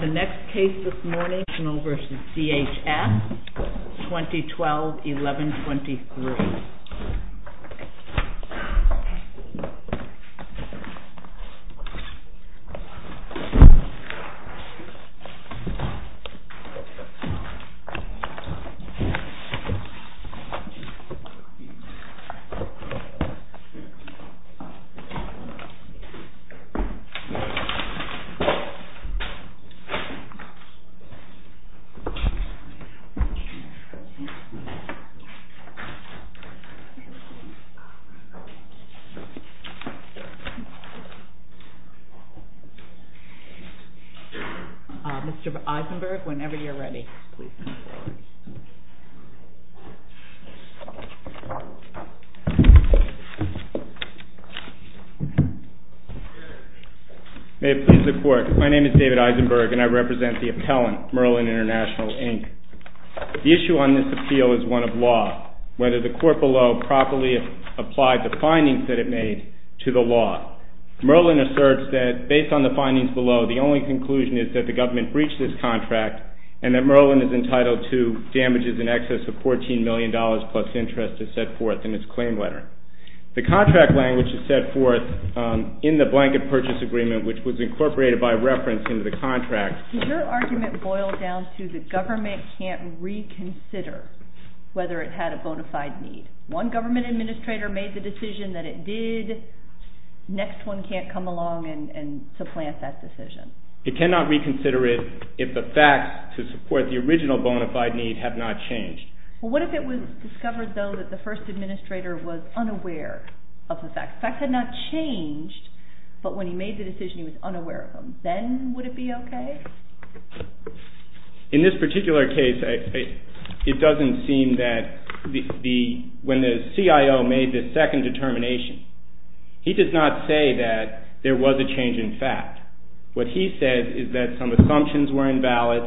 The next case this morning, International v. DHS, 2012-11-23. Mr. Eisenberg, whenever you're ready, please. May it please the Court, my name is David Eisenberg and I represent the appellant, Merlin International, Inc. The issue on this appeal is one of law, whether the court below properly applied the findings that it made to the law. Merlin asserts that based on the findings below, the only conclusion is that the government breached this contract and that Merlin is entitled to damages in excess of $14 million plus interest is set forth in its claim letter. The contract language is set forth in the blanket purchase agreement which was incorporated by reference into the contract. Does your argument boil down to the government can't reconsider whether it had a bona fide need? One government administrator made the decision that it did, next one can't come along and supplant that decision. It cannot reconsider it if the facts to support the original bona fide need have not changed. What if it was discovered though that the first administrator was unaware of the facts? The facts had not changed, but when he made the decision he was unaware of them. Then would it be okay? In this particular case, it doesn't seem that when the CIO made the second determination, he does not say that there was a change in fact. What he said is that some assumptions were invalid.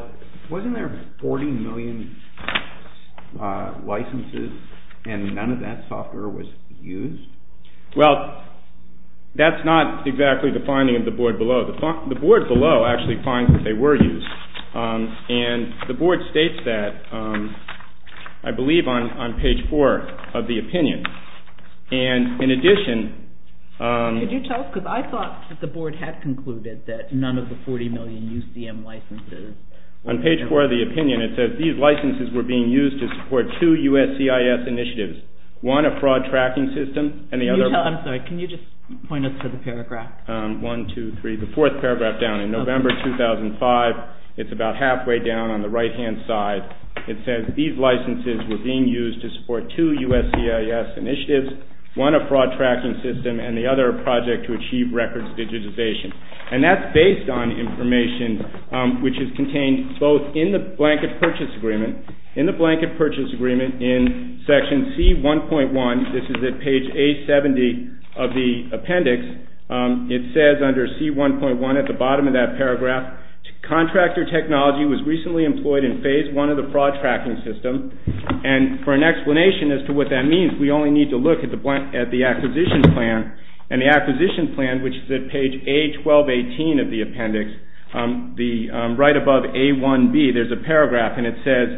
Wasn't there $40 million licenses and none of that software was used? Well, that's not exactly the finding of the board below. The board below actually finds that they were used and the board states that I believe on page 4 of the opinion. Could you tell us, because I thought that the board had concluded that none of the $40 million UCM licenses. On page 4 of the opinion, it says these licenses were being used to support two USCIS initiatives, one a fraud tracking system and the other... I'm sorry, can you just point us to the paragraph? One, two, three, the fourth paragraph down. In November 2005, it's about halfway down on the right-hand side. It says these licenses were being used to support two USCIS initiatives, one a fraud tracking system and the other a project to achieve records digitization. And that's based on information which is contained both in the blanket purchase agreement. In the blanket purchase agreement in section C1.1, this is at page A70 of the appendix, it says under C1.1 at the bottom of that paragraph, contractor technology was recently employed in phase one of the fraud tracking system. And for an explanation as to what that means, we only need to look at the acquisition plan. And the acquisition plan, which is at page A1218 of the appendix, right above A1B, there's a paragraph, and it says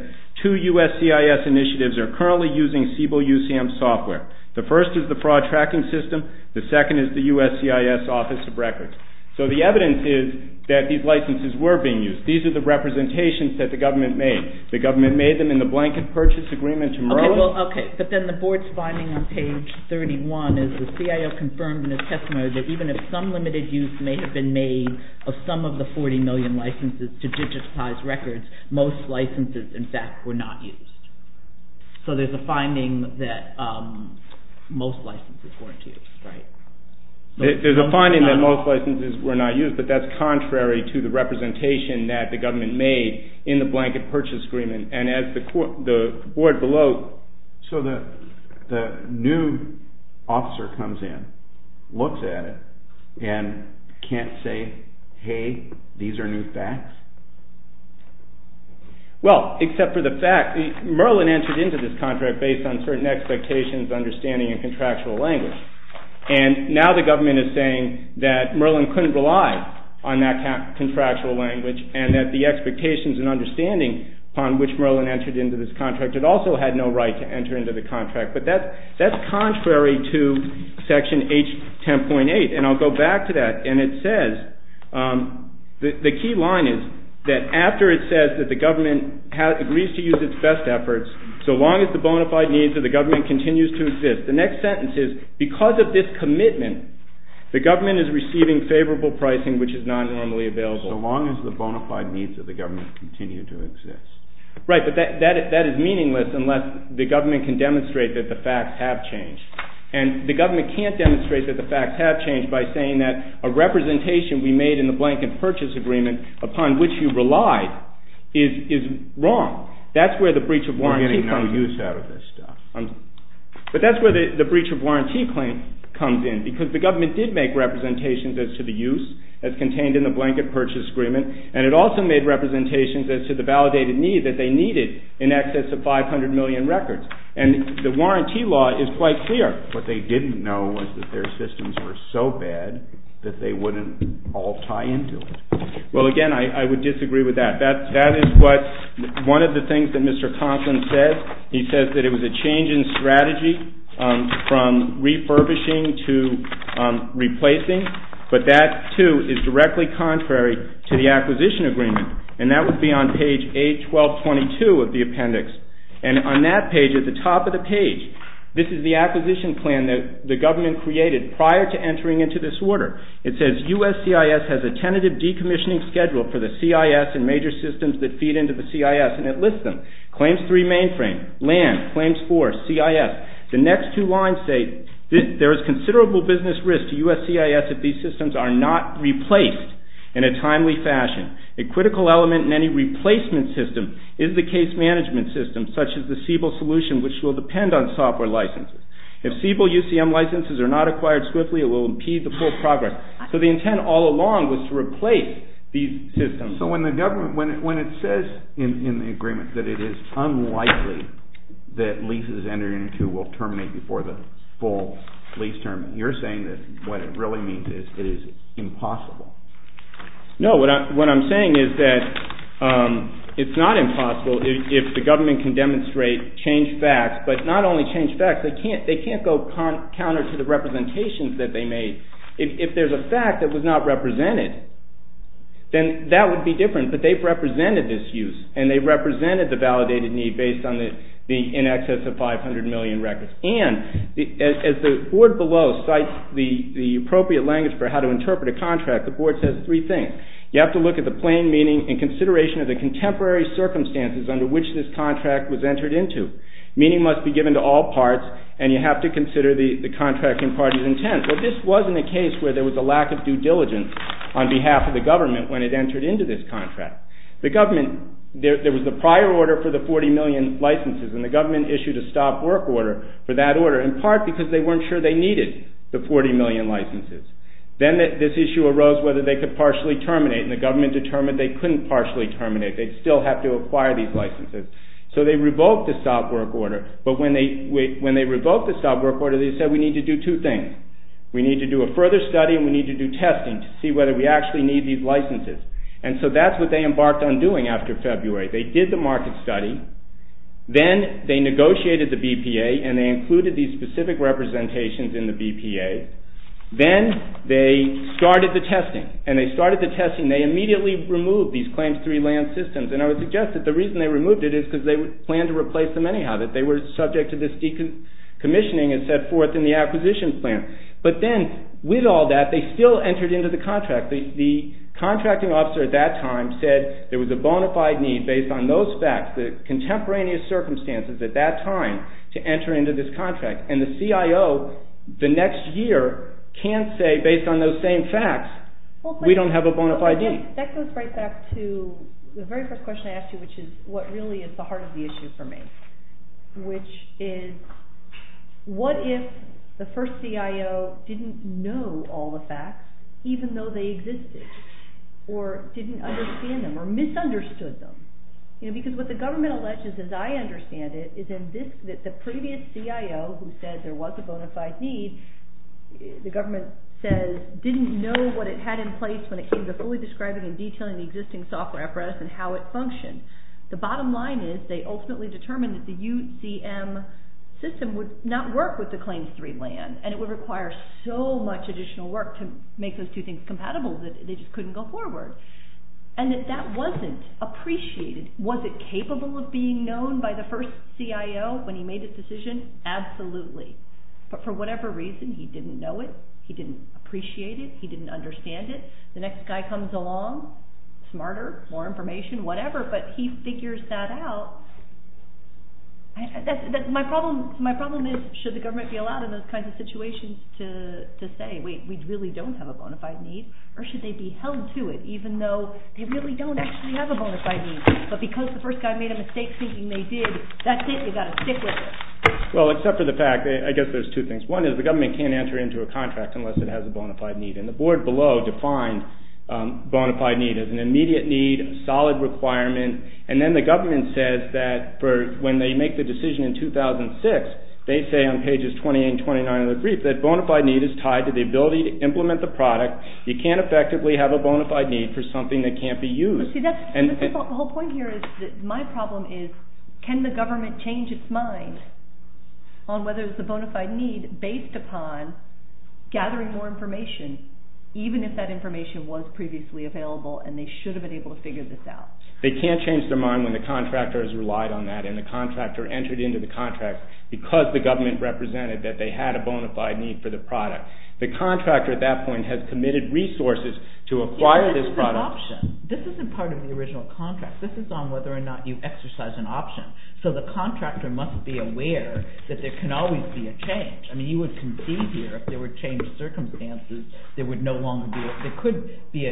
two USCIS initiatives are currently using Siebel UCM software. The first is the fraud tracking system. The second is the USCIS Office of Records. So the evidence is that these licenses were being used. These are the representations that the government made. The government made them in the blanket purchase agreement tomorrow. Okay, but then the board's finding on page 31 is the CIO confirmed in his testimony that even if some limited use may have been made of some of the 40 million licenses to digitize records, most licenses, in fact, were not used. So there's a finding that most licenses weren't used, right? There's a finding that most licenses were not used, but that's contrary to the representation that the government made in the blanket purchase agreement. And as the board below... So the new officer comes in, looks at it, and can't say, hey, these are new facts? Well, except for the fact, Merlin entered into this contract based on certain expectations, understanding, and contractual language. And now the government is saying that Merlin couldn't rely on that contractual language and that the expectations and understanding upon which Merlin entered into this contract had also had no right to enter into the contract. But that's contrary to Section H10.8. And I'll go back to that. And it says, the key line is that after it says that the government agrees to use its best efforts, so long as the bona fide needs of the government continues to exist. The next sentence is, because of this commitment, the government is receiving favorable pricing which is not normally available. So long as the bona fide needs of the government continue to exist. Right, but that is meaningless unless the government can demonstrate that the facts have changed. And the government can't demonstrate that the facts have changed by saying that a representation we made in the blanket purchase agreement, upon which you relied, is wrong. We're getting no use out of this stuff. But that's where the breach of warranty claim comes in. Because the government did make representations as to the use that's contained in the blanket purchase agreement. And it also made representations as to the validated need that they needed in excess of 500 million records. And the warranty law is quite clear. What they didn't know was that their systems were so bad that they wouldn't all tie into it. Well, again, I would disagree with that. That is what one of the things that Mr. Conklin said. He said that it was a change in strategy from refurbishing to replacing. But that, too, is directly contrary to the acquisition agreement. And that would be on page A1222 of the appendix. And on that page, at the top of the page, this is the acquisition plan that the government created prior to entering into this order. It says, U.S. CIS has a tentative decommissioning schedule for the CIS and major systems that feed into the CIS. And it lists them. Claims 3 mainframe, land, claims 4, CIS. The next two lines say there is considerable business risk to U.S. CIS if these systems are not replaced in a timely fashion. A critical element in any replacement system is the case management system, such as the Siebel solution, which will depend on software licenses. If Siebel UCM licenses are not acquired swiftly, it will impede the full progress. So the intent all along was to replace these systems. So when it says in the agreement that it is unlikely that leases entered into will terminate before the full lease term, you're saying that what it really means is it is impossible. No, what I'm saying is that it's not impossible if the government can demonstrate, change facts, but not only change facts. They can't go counter to the representations that they made. If there's a fact that was not represented, then that would be different. But they've represented this use, and they've represented the validated need based on the in excess of 500 million records. And as the board below cites the appropriate language for how to interpret a contract, the board says three things. You have to look at the plain meaning and consideration of the contemporary circumstances under which this contract was entered into. Meaning must be given to all parts, and you have to consider the contracting parties' intent. But this wasn't a case where there was a lack of due diligence on behalf of the government when it entered into this contract. There was a prior order for the 40 million licenses, and the government issued a stop work order for that order, in part because they weren't sure they needed the 40 million licenses. Then this issue arose whether they could partially terminate, and the government determined they couldn't partially terminate. They'd still have to acquire these licenses. So they revoked the stop work order. But when they revoked the stop work order, they said we need to do two things. We need to do a further study, and we need to do testing to see whether we actually need these licenses. And so that's what they embarked on doing after February. They did the market study. Then they negotiated the BPA, and they included these specific representations in the BPA. Then they started the testing, and they started the testing. They immediately removed these claims-free land systems, and I would suggest that the reason they removed it is because they planned to replace them anyhow, that they were subject to this decommissioning and set forth in the acquisition plan. But then with all that, they still entered into the contract. The contracting officer at that time said there was a bona fide need based on those facts, the contemporaneous circumstances at that time, to enter into this contract. And the CIO the next year can't say based on those same facts, we don't have a bona fide need. That goes right back to the very first question I asked you, which is what really is the heart of the issue for me, which is what if the first CIO didn't know all the facts even though they existed or didn't understand them or misunderstood them? Because what the government alleges, as I understand it, is that the previous CIO who said there was a bona fide need, the government says didn't know what it had in place when it came to fully describing and detailing the existing software for us and how it functioned. The bottom line is they ultimately determined that the UCM system would not work with the Claims III land, and it would require so much additional work to make those two things compatible that they just couldn't go forward. And that that wasn't appreciated. Was it capable of being known by the first CIO when he made his decision? Absolutely. But for whatever reason, he didn't know it, he didn't appreciate it, he didn't understand it. The next guy comes along, smarter, more information, whatever, but he figures that out. My problem is should the government be allowed in those kinds of situations to say, wait, we really don't have a bona fide need, or should they be held to it even though they really don't actually have a bona fide need? But because the first guy made a mistake thinking they did, that's it, you've got to stick with it. Well, except for the fact, I guess there's two things. One is the government can't enter into a contract unless it has a bona fide need. And the board below defined bona fide need as an immediate need, a solid requirement, and then the government says that when they make the decision in 2006, they say on pages 28 and 29 of the brief that bona fide need is tied to the ability to implement the product. You can't effectively have a bona fide need for something that can't be used. The whole point here is that my problem is can the government change its mind on whether it's a bona fide need based upon gathering more information, even if that information was previously available and they should have been able to figure this out? They can't change their mind when the contractor has relied on that and the contractor entered into the contract because the government represented that they had a bona fide need for the product. The contractor at that point has committed resources to acquire this product. The option, this isn't part of the original contract. This is on whether or not you exercise an option. So the contractor must be aware that there can always be a change. I mean you would concede here if there were changed circumstances, there would no longer be, there could be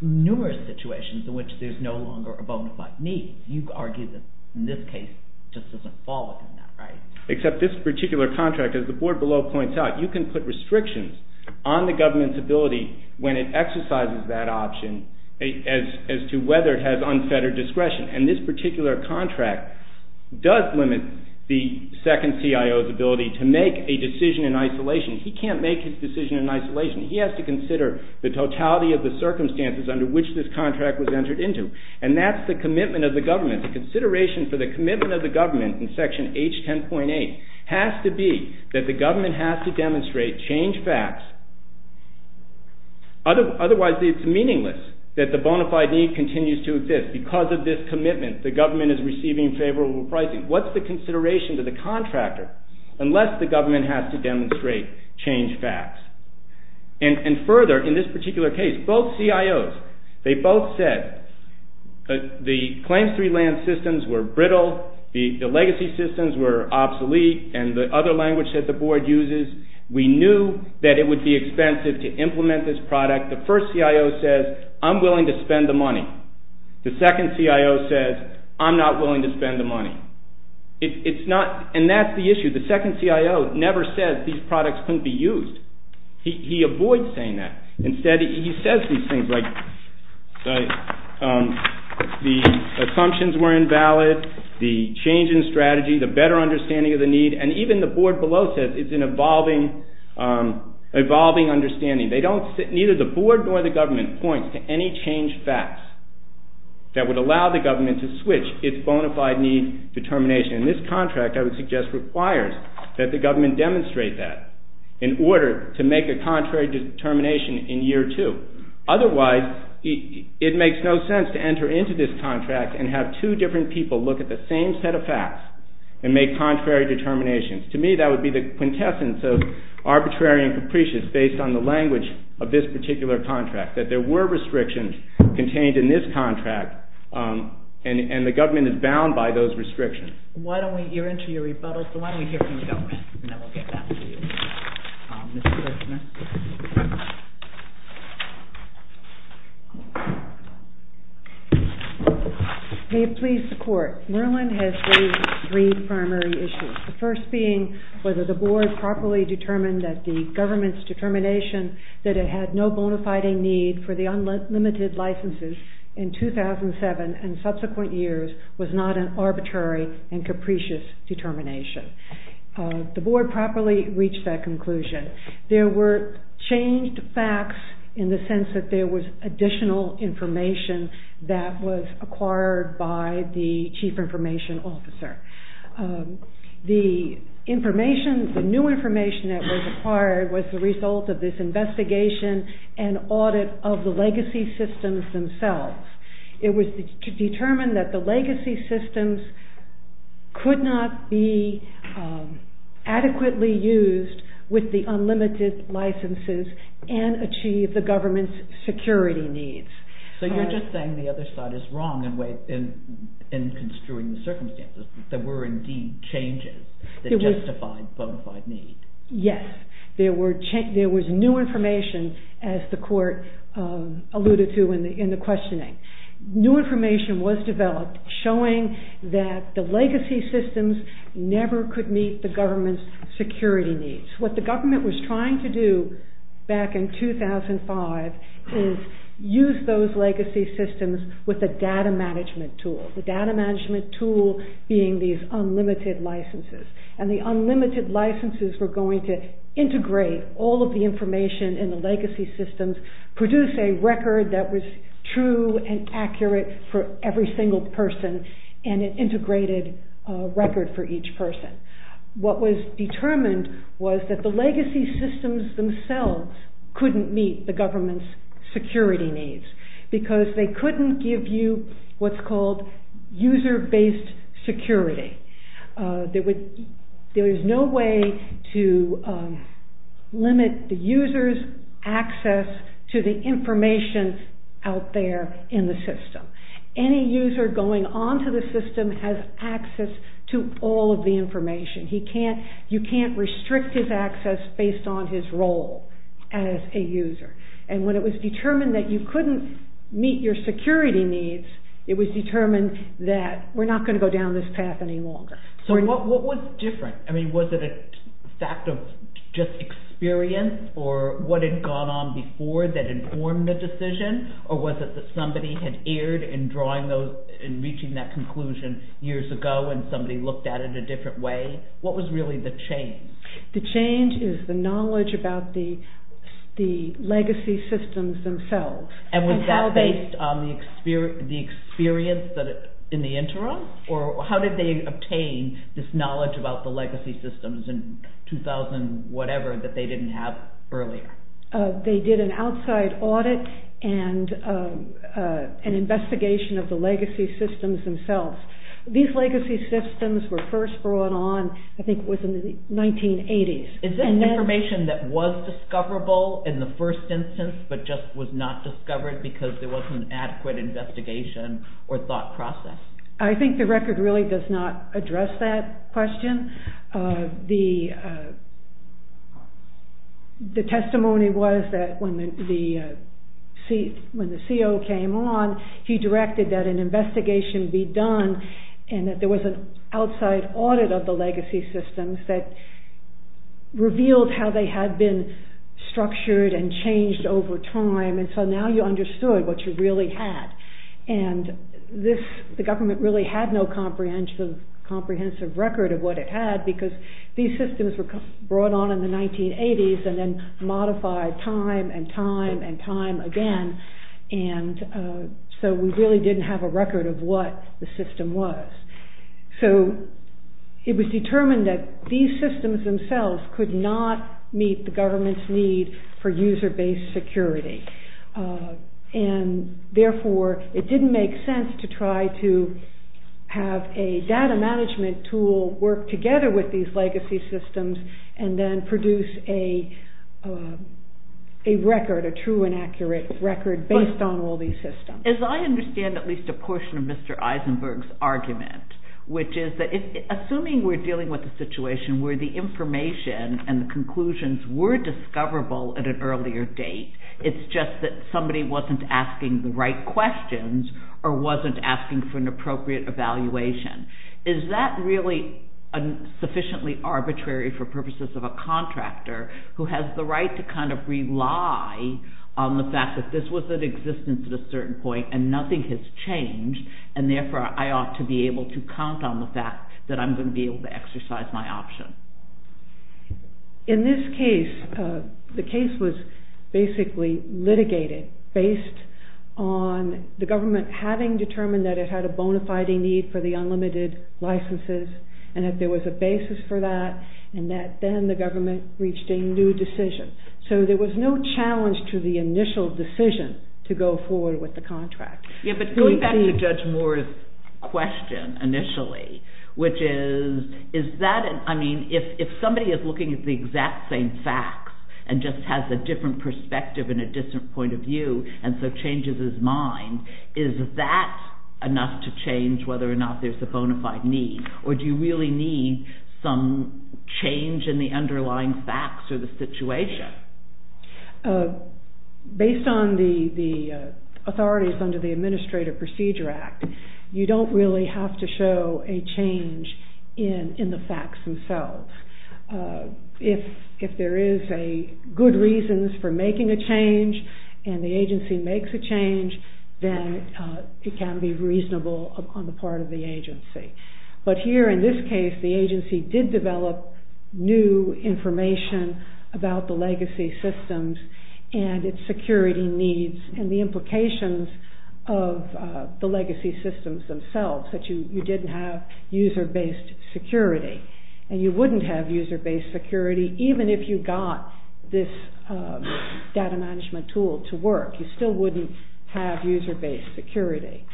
numerous situations in which there's no longer a bona fide need. You argue that in this case it just doesn't fall within that, right? Except this particular contract, as the board below points out, you can put restrictions on the government's ability when it exercises that option as to whether it has unfettered discretion and this particular contract does limit the second CIO's ability to make a decision in isolation. He can't make his decision in isolation. He has to consider the totality of the circumstances under which this contract was entered into and that's the commitment of the government. The consideration for the commitment of the government in section H10.8 has to be that the government has to demonstrate, change facts, otherwise it's meaningless that the bona fide need continues to exist. Because of this commitment, the government is receiving favorable pricing. What's the consideration to the contractor unless the government has to demonstrate, change facts? And further, in this particular case, both CIOs, they both said the claims-free land systems were brittle, the legacy systems were obsolete, and the other language that the board uses, we knew that it would be expensive to implement this product. The first CIO says, I'm willing to spend the money. The second CIO says, I'm not willing to spend the money. And that's the issue. The second CIO never says these products couldn't be used. He avoids saying that. Instead, he says these things like the assumptions were invalid, the change in strategy, the better understanding of the need, and even the board below says it's an evolving understanding. Neither the board nor the government points to any change facts that would allow the government to switch its bona fide need determination. And this contract, I would suggest, requires that the government demonstrate that in order to make a contrary determination in year two. Otherwise, it makes no sense to enter into this contract and have two different people look at the same set of facts and make contrary determinations. To me, that would be the quintessence of arbitrary and capricious based on the language of this particular contract, that there were restrictions contained in this contract and the government is bound by those restrictions. You're into your rebuttal, so why don't we hear from the government and then we'll get back to you. May it please the court. Maryland has raised three primary issues, the first being whether the board properly determined that the government's determination that it had no bona fide need for the unlimited licenses in 2007 and subsequent years was not an arbitrary and capricious determination. The board properly reached that conclusion. There were changed facts in the sense that there was additional information that was acquired by the chief information officer. The new information that was acquired was the result of this investigation and audit of the legacy systems themselves. It was determined that the legacy systems could not be adequately used with the unlimited licenses and achieve the government's security needs. So you're just saying the other side is wrong in construing the circumstances. There were indeed changes that justified bona fide need. Yes. There was new information as the court alluded to in the questioning. New information was developed showing that the legacy systems never could meet the government's security needs. What the government was trying to do back in 2005 is use those legacy systems with a data management tool, the data management tool being these unlimited licenses. The unlimited licenses were going to integrate all of the information in the legacy systems, produce a record that was true and accurate for every single person and an integrated record for each person. What was determined was that the legacy systems themselves couldn't meet the government's security needs because they couldn't give you what's called user-based security. There is no way to limit the user's access to the information out there in the system. Any user going onto the system has access to all of the information. You can't restrict his access based on his role as a user. And when it was determined that you couldn't meet your security needs, it was determined that we're not going to go down this path any longer. So what was different? Was it a fact of just experience or what had gone on before that informed the decision? Or was it that somebody had erred in reaching that conclusion years ago and somebody looked at it a different way? What was really the change? The change is the knowledge about the legacy systems themselves. And was that based on the experience in the interim? Or how did they obtain this knowledge about the legacy systems in 2000-whatever that they didn't have earlier? They did an outside audit and an investigation of the legacy systems themselves. These legacy systems were first brought on, I think it was in the 1980s. Is this information that was discoverable in the first instance but just was not discovered because there wasn't an adequate investigation or thought process? I think the record really does not address that question. The testimony was that when the CO came on, he directed that an investigation be done and that there was an outside audit of the legacy systems that revealed how they had been structured and changed over time and so now you understood what you really had. And the government really had no comprehensive record of what it had because these systems were brought on in the 1980s and then modified time and time and time again and so we really didn't have a record of what the system was. So it was determined that these systems themselves could not meet the government's need for user-based security and therefore it didn't make sense to try to have a data management tool work together with these legacy systems and then produce a record, a true and accurate record based on all these systems. As I understand at least a portion of Mr. Eisenberg's argument, which is that assuming we're dealing with a situation where the information and the conclusions were discoverable at an earlier date, it's just that somebody wasn't asking the right questions or wasn't asking for an appropriate evaluation. Is that really sufficiently arbitrary for purposes of a contractor who has the right to kind of rely on the fact that this was in existence at a certain point and nothing has changed and therefore I ought to be able to count on the fact that I'm going to be able to exercise my option? In this case, the case was basically litigated based on the government having determined that it had a bona fide need for the unlimited licenses and that there was a basis for that and that then the government reached a new decision. So there was no challenge to the initial decision to go forward with the contract. Going back to Judge Moore's question initially, which is if somebody is looking at the exact same facts and just has a different perspective and a different point of view and so changes his mind, is that enough to change whether or not there's a bona fide need or do you really need some change in the underlying facts or the situation? Based on the authorities under the Administrative Procedure Act, you don't really have to show a change in the facts themselves. If there is good reasons for making a change and the agency makes a change, but here in this case, the agency did develop new information about the legacy systems and its security needs and the implications of the legacy systems themselves, that you didn't have user-based security and you wouldn't have user-based security even if you got this data management tool to work. You still wouldn't have user-based security.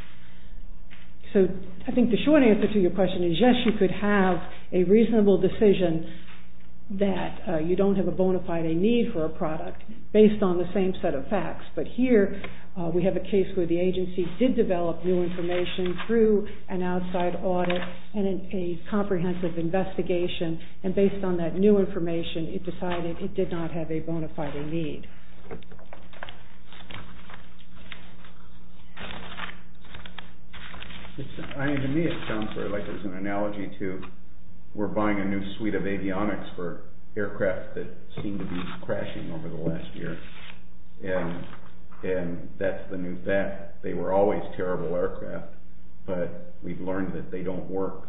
I think the short answer to your question is yes, you could have a reasonable decision that you don't have a bona fide need for a product based on the same set of facts, but here we have a case where the agency did develop new information through an outside audit and a comprehensive investigation and based on that new information, it decided it did not have a bona fide need. To me it sounds like there's an analogy to we're buying a new suite of avionics for aircraft that seem to be crashing over the last year and that's the new fact. They were always terrible aircraft, but we've learned that they don't work.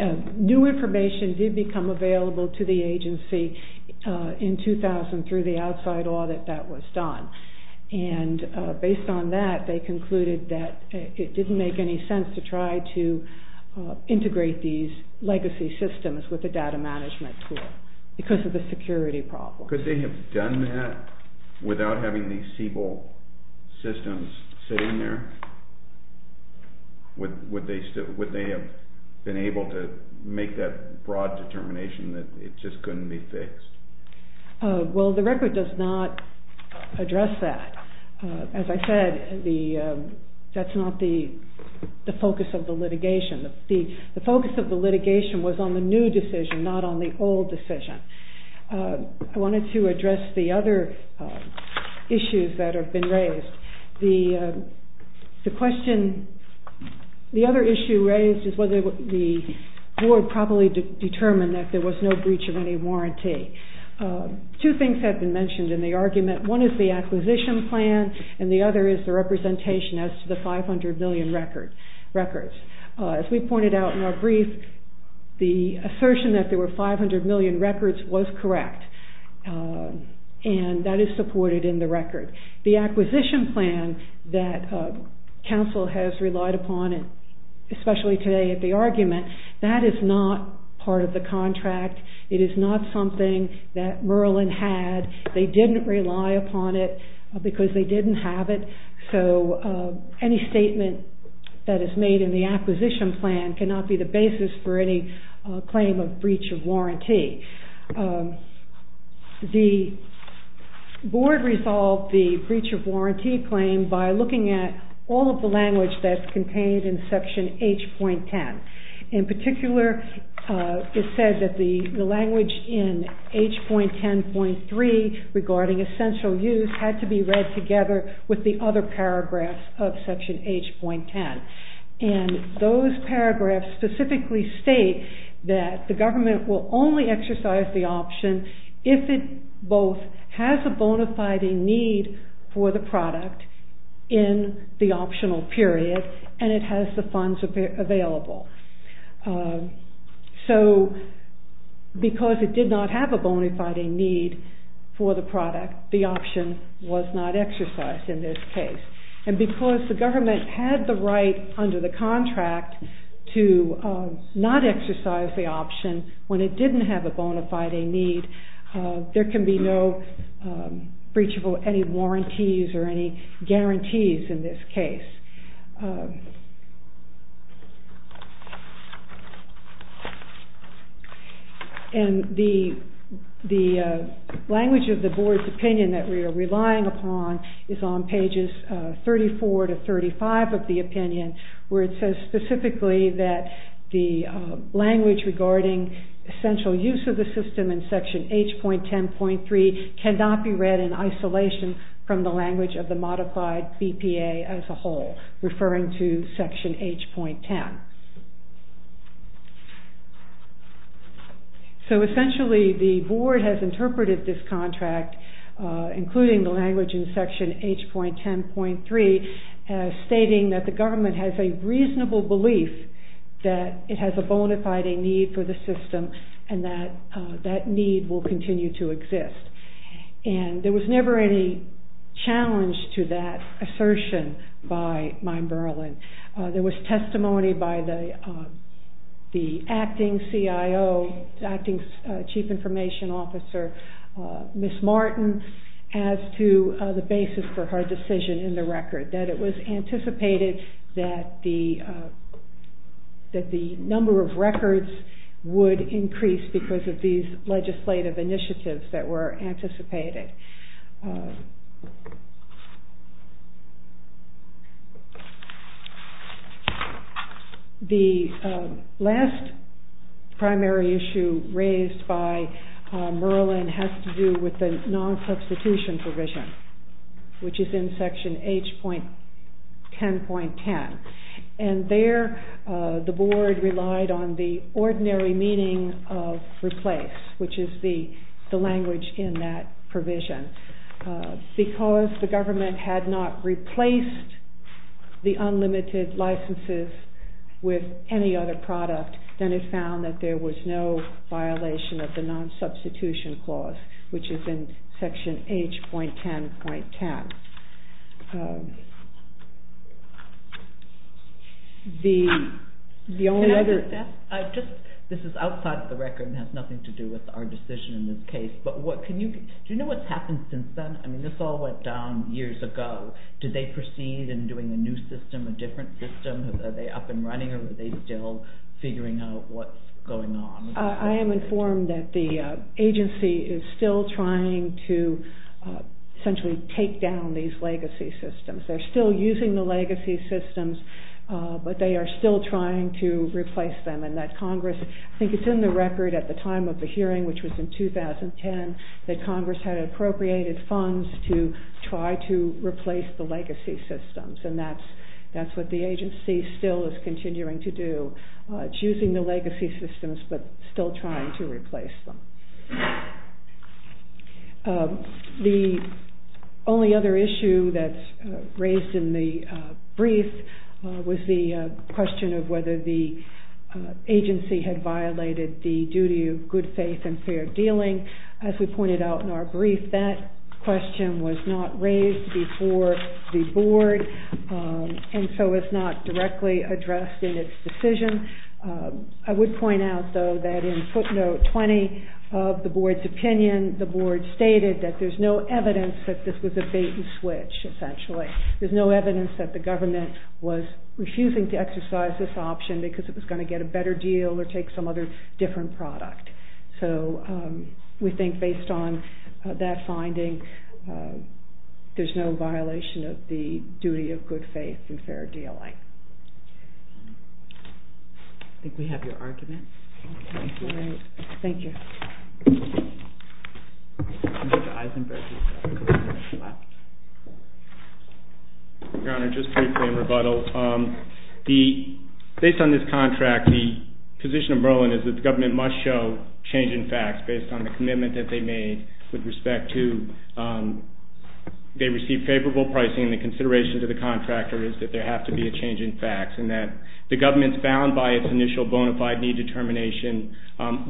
New information did become available to the agency in 2000 through the outside audit that was done and based on that, they concluded that it didn't make any sense to try to integrate these legacy systems with the data management tool because of the security problem. Could they have done that without having these Siebel systems sitting there? Would they have been able to make that broad determination that it just couldn't be fixed? Well, the record does not address that. As I said, that's not the focus of the litigation. The focus of the litigation was on the new decision, not on the old decision. I wanted to address the other issues that have been raised. The other issue raised is whether the board properly determined that there was no breach of any warranty. Two things have been mentioned in the argument. One is the acquisition plan and the other is the representation as to the 500 million records. As we pointed out in our brief, the assertion that there were 500 million records was correct and that is supported in the record. The acquisition plan that council has relied upon, especially today at the argument, that is not part of the contract. It is not something that Merlin had. They didn't rely upon it because they didn't have it. So any statement that is made in the acquisition plan cannot be the basis for any claim of breach of warranty. The board resolved the breach of warranty claim by looking at all of the language that's contained in Section H.10. In particular, it says that the language in H.10.3 regarding essential use had to be read together with the other paragraphs of Section H.10. Those paragraphs specifically state that the government will only exercise the option if it both has a bona fide need for the product in the optional period and it has the funds available. So because it did not have a bona fide need for the product, the option was not exercised in this case. And because the government had the right under the contract to not exercise the option when it didn't have a bona fide need, there can be no breach of any warranties or any guarantees in this case. And the language of the board's opinion that we are relying upon is on pages 34 to 35 of the opinion where it says specifically that the language regarding essential use of the system in Section H.10.3 cannot be read in isolation from the language of the modified BPA as a whole, referring to Section H.10. So essentially the board has interpreted this contract, including the language in Section H.10.3, stating that the government has a reasonable belief that it has a bona fide need for the system and that that need will continue to exist. And there was never any challenge to that assertion by Mine Berlin. There was testimony by the acting CIO, the acting Chief Information Officer, Ms. Martin, as to the basis for her decision in the record, that it was anticipated that the number of records would increase because of these legislative initiatives that were anticipated. The last primary issue raised by Merlin has to do with the non-substitution provision, which is in Section H.10.10, and there the board relied on the ordinary meaning of replace, which is the language in that provision. Because the government had not replaced the unlimited licenses with any other product, then it found that there was no violation of the non-substitution clause, which is in Section H.10.10. This is outside of the record and has nothing to do with our decision in this case. Do you know what's happened since then? This all went down years ago. Did they proceed in doing a new system, a different system? Are they up and running or are they still figuring out what's going on? I am informed that the agency is still trying to essentially take down these legacy systems. They're still using the legacy systems, but they are still trying to replace them. I think it's in the record at the time of the hearing, which was in 2010, that Congress had appropriated funds to try to replace the legacy systems, and that's what the agency still is continuing to do. It's using the legacy systems but still trying to replace them. The only other issue that's raised in the brief was the question of whether the agency had violated the duty of good faith and fair dealing. As we pointed out in our brief, that question was not raised before the Board and so it's not directly addressed in its decision. I would point out, though, that in footnote 20 of the Board's opinion, the Board stated that there's no evidence that this was a bait and switch, essentially. There's no evidence that the government was refusing to exercise this option because it was going to get a better deal or take some other different product. So we think based on that finding, there's no violation of the duty of good faith and fair dealing. I think we have your argument. Thank you. Your Honor, just briefly in rebuttal, based on this contract, the position of Merlin is that the government must show change in facts based on the commitment that they made with respect to they received favorable pricing and the consideration to the contractor is that there have to be a change in facts and that the government's bound by its initial bona fide need determination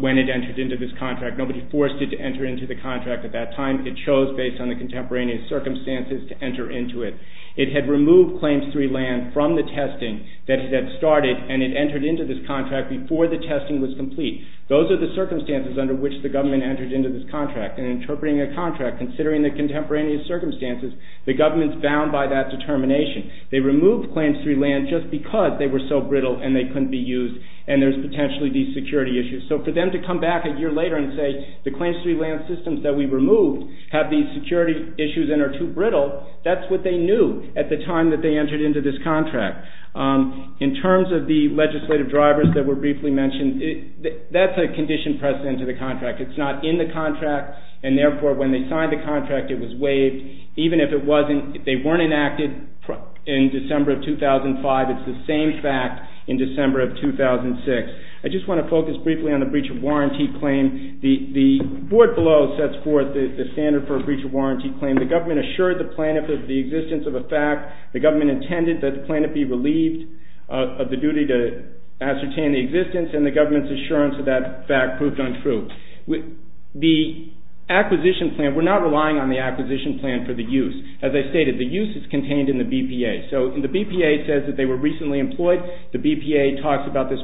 when it entered into this contract. Nobody forced it to enter into the contract at that time. It chose based on the contemporaneous circumstances to enter into it. It had removed Claims III land from the testing that it had started and it entered into this contract before the testing was complete. Those are the circumstances under which the government entered into this contract and interpreting a contract, considering the contemporaneous circumstances, the government's bound by that determination. They removed Claims III land just because they were so brittle and they couldn't be used and there's potentially these security issues. So for them to come back a year later and say the Claims III land systems that we removed have these security issues and are too brittle, that's what they knew at the time that they entered into this contract. In terms of the legislative drivers that were briefly mentioned, that's a condition pressed into the contract. It's not in the contract and therefore when they signed the contract it was waived. Even if they weren't enacted in December of 2005, it's the same fact in December of 2006. I just want to focus briefly on the Breach of Warranty Claim. The board below sets forth the standard for a Breach of Warranty Claim. The government assured the plaintiff of the existence of a fact. The government intended that the plaintiff be relieved of the duty to ascertain the existence and the government's assurance of that fact proved untrue. The acquisition plan, we're not relying on the acquisition plan for the use. As I stated, the use is contained in the BPA. So the BPA says that they were recently employed. The BPA talks about this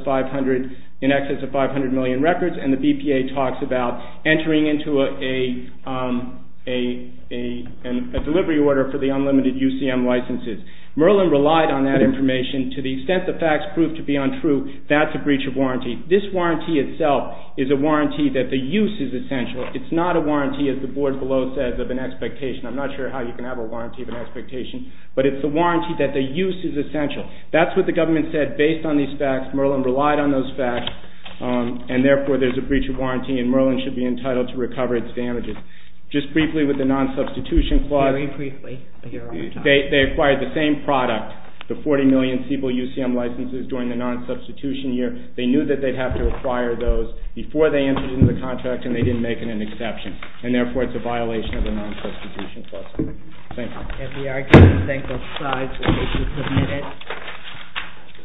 in excess of 500 million records and the BPA talks about entering into a delivery order for the unlimited UCM licenses. Merlin relied on that information. To the extent the facts proved to be untrue, that's a Breach of Warranty. This warranty itself is a warranty that the use is essential. It's not a warranty, as the board below says, of an expectation. I'm not sure how you can have a warranty of an expectation, but it's a warranty that the use is essential. That's what the government said based on these facts. Merlin relied on those facts and therefore there's a Breach of Warranty and Merlin should be entitled to recover its damages. Just briefly with the non-substitution clause, they acquired the same product, the 40 million Siebel UCM licenses during the non-substitution year. They knew that they'd have to acquire those before they entered into the contract and they didn't make it an exception and therefore it's a violation of the non-substitution clause. Thank you.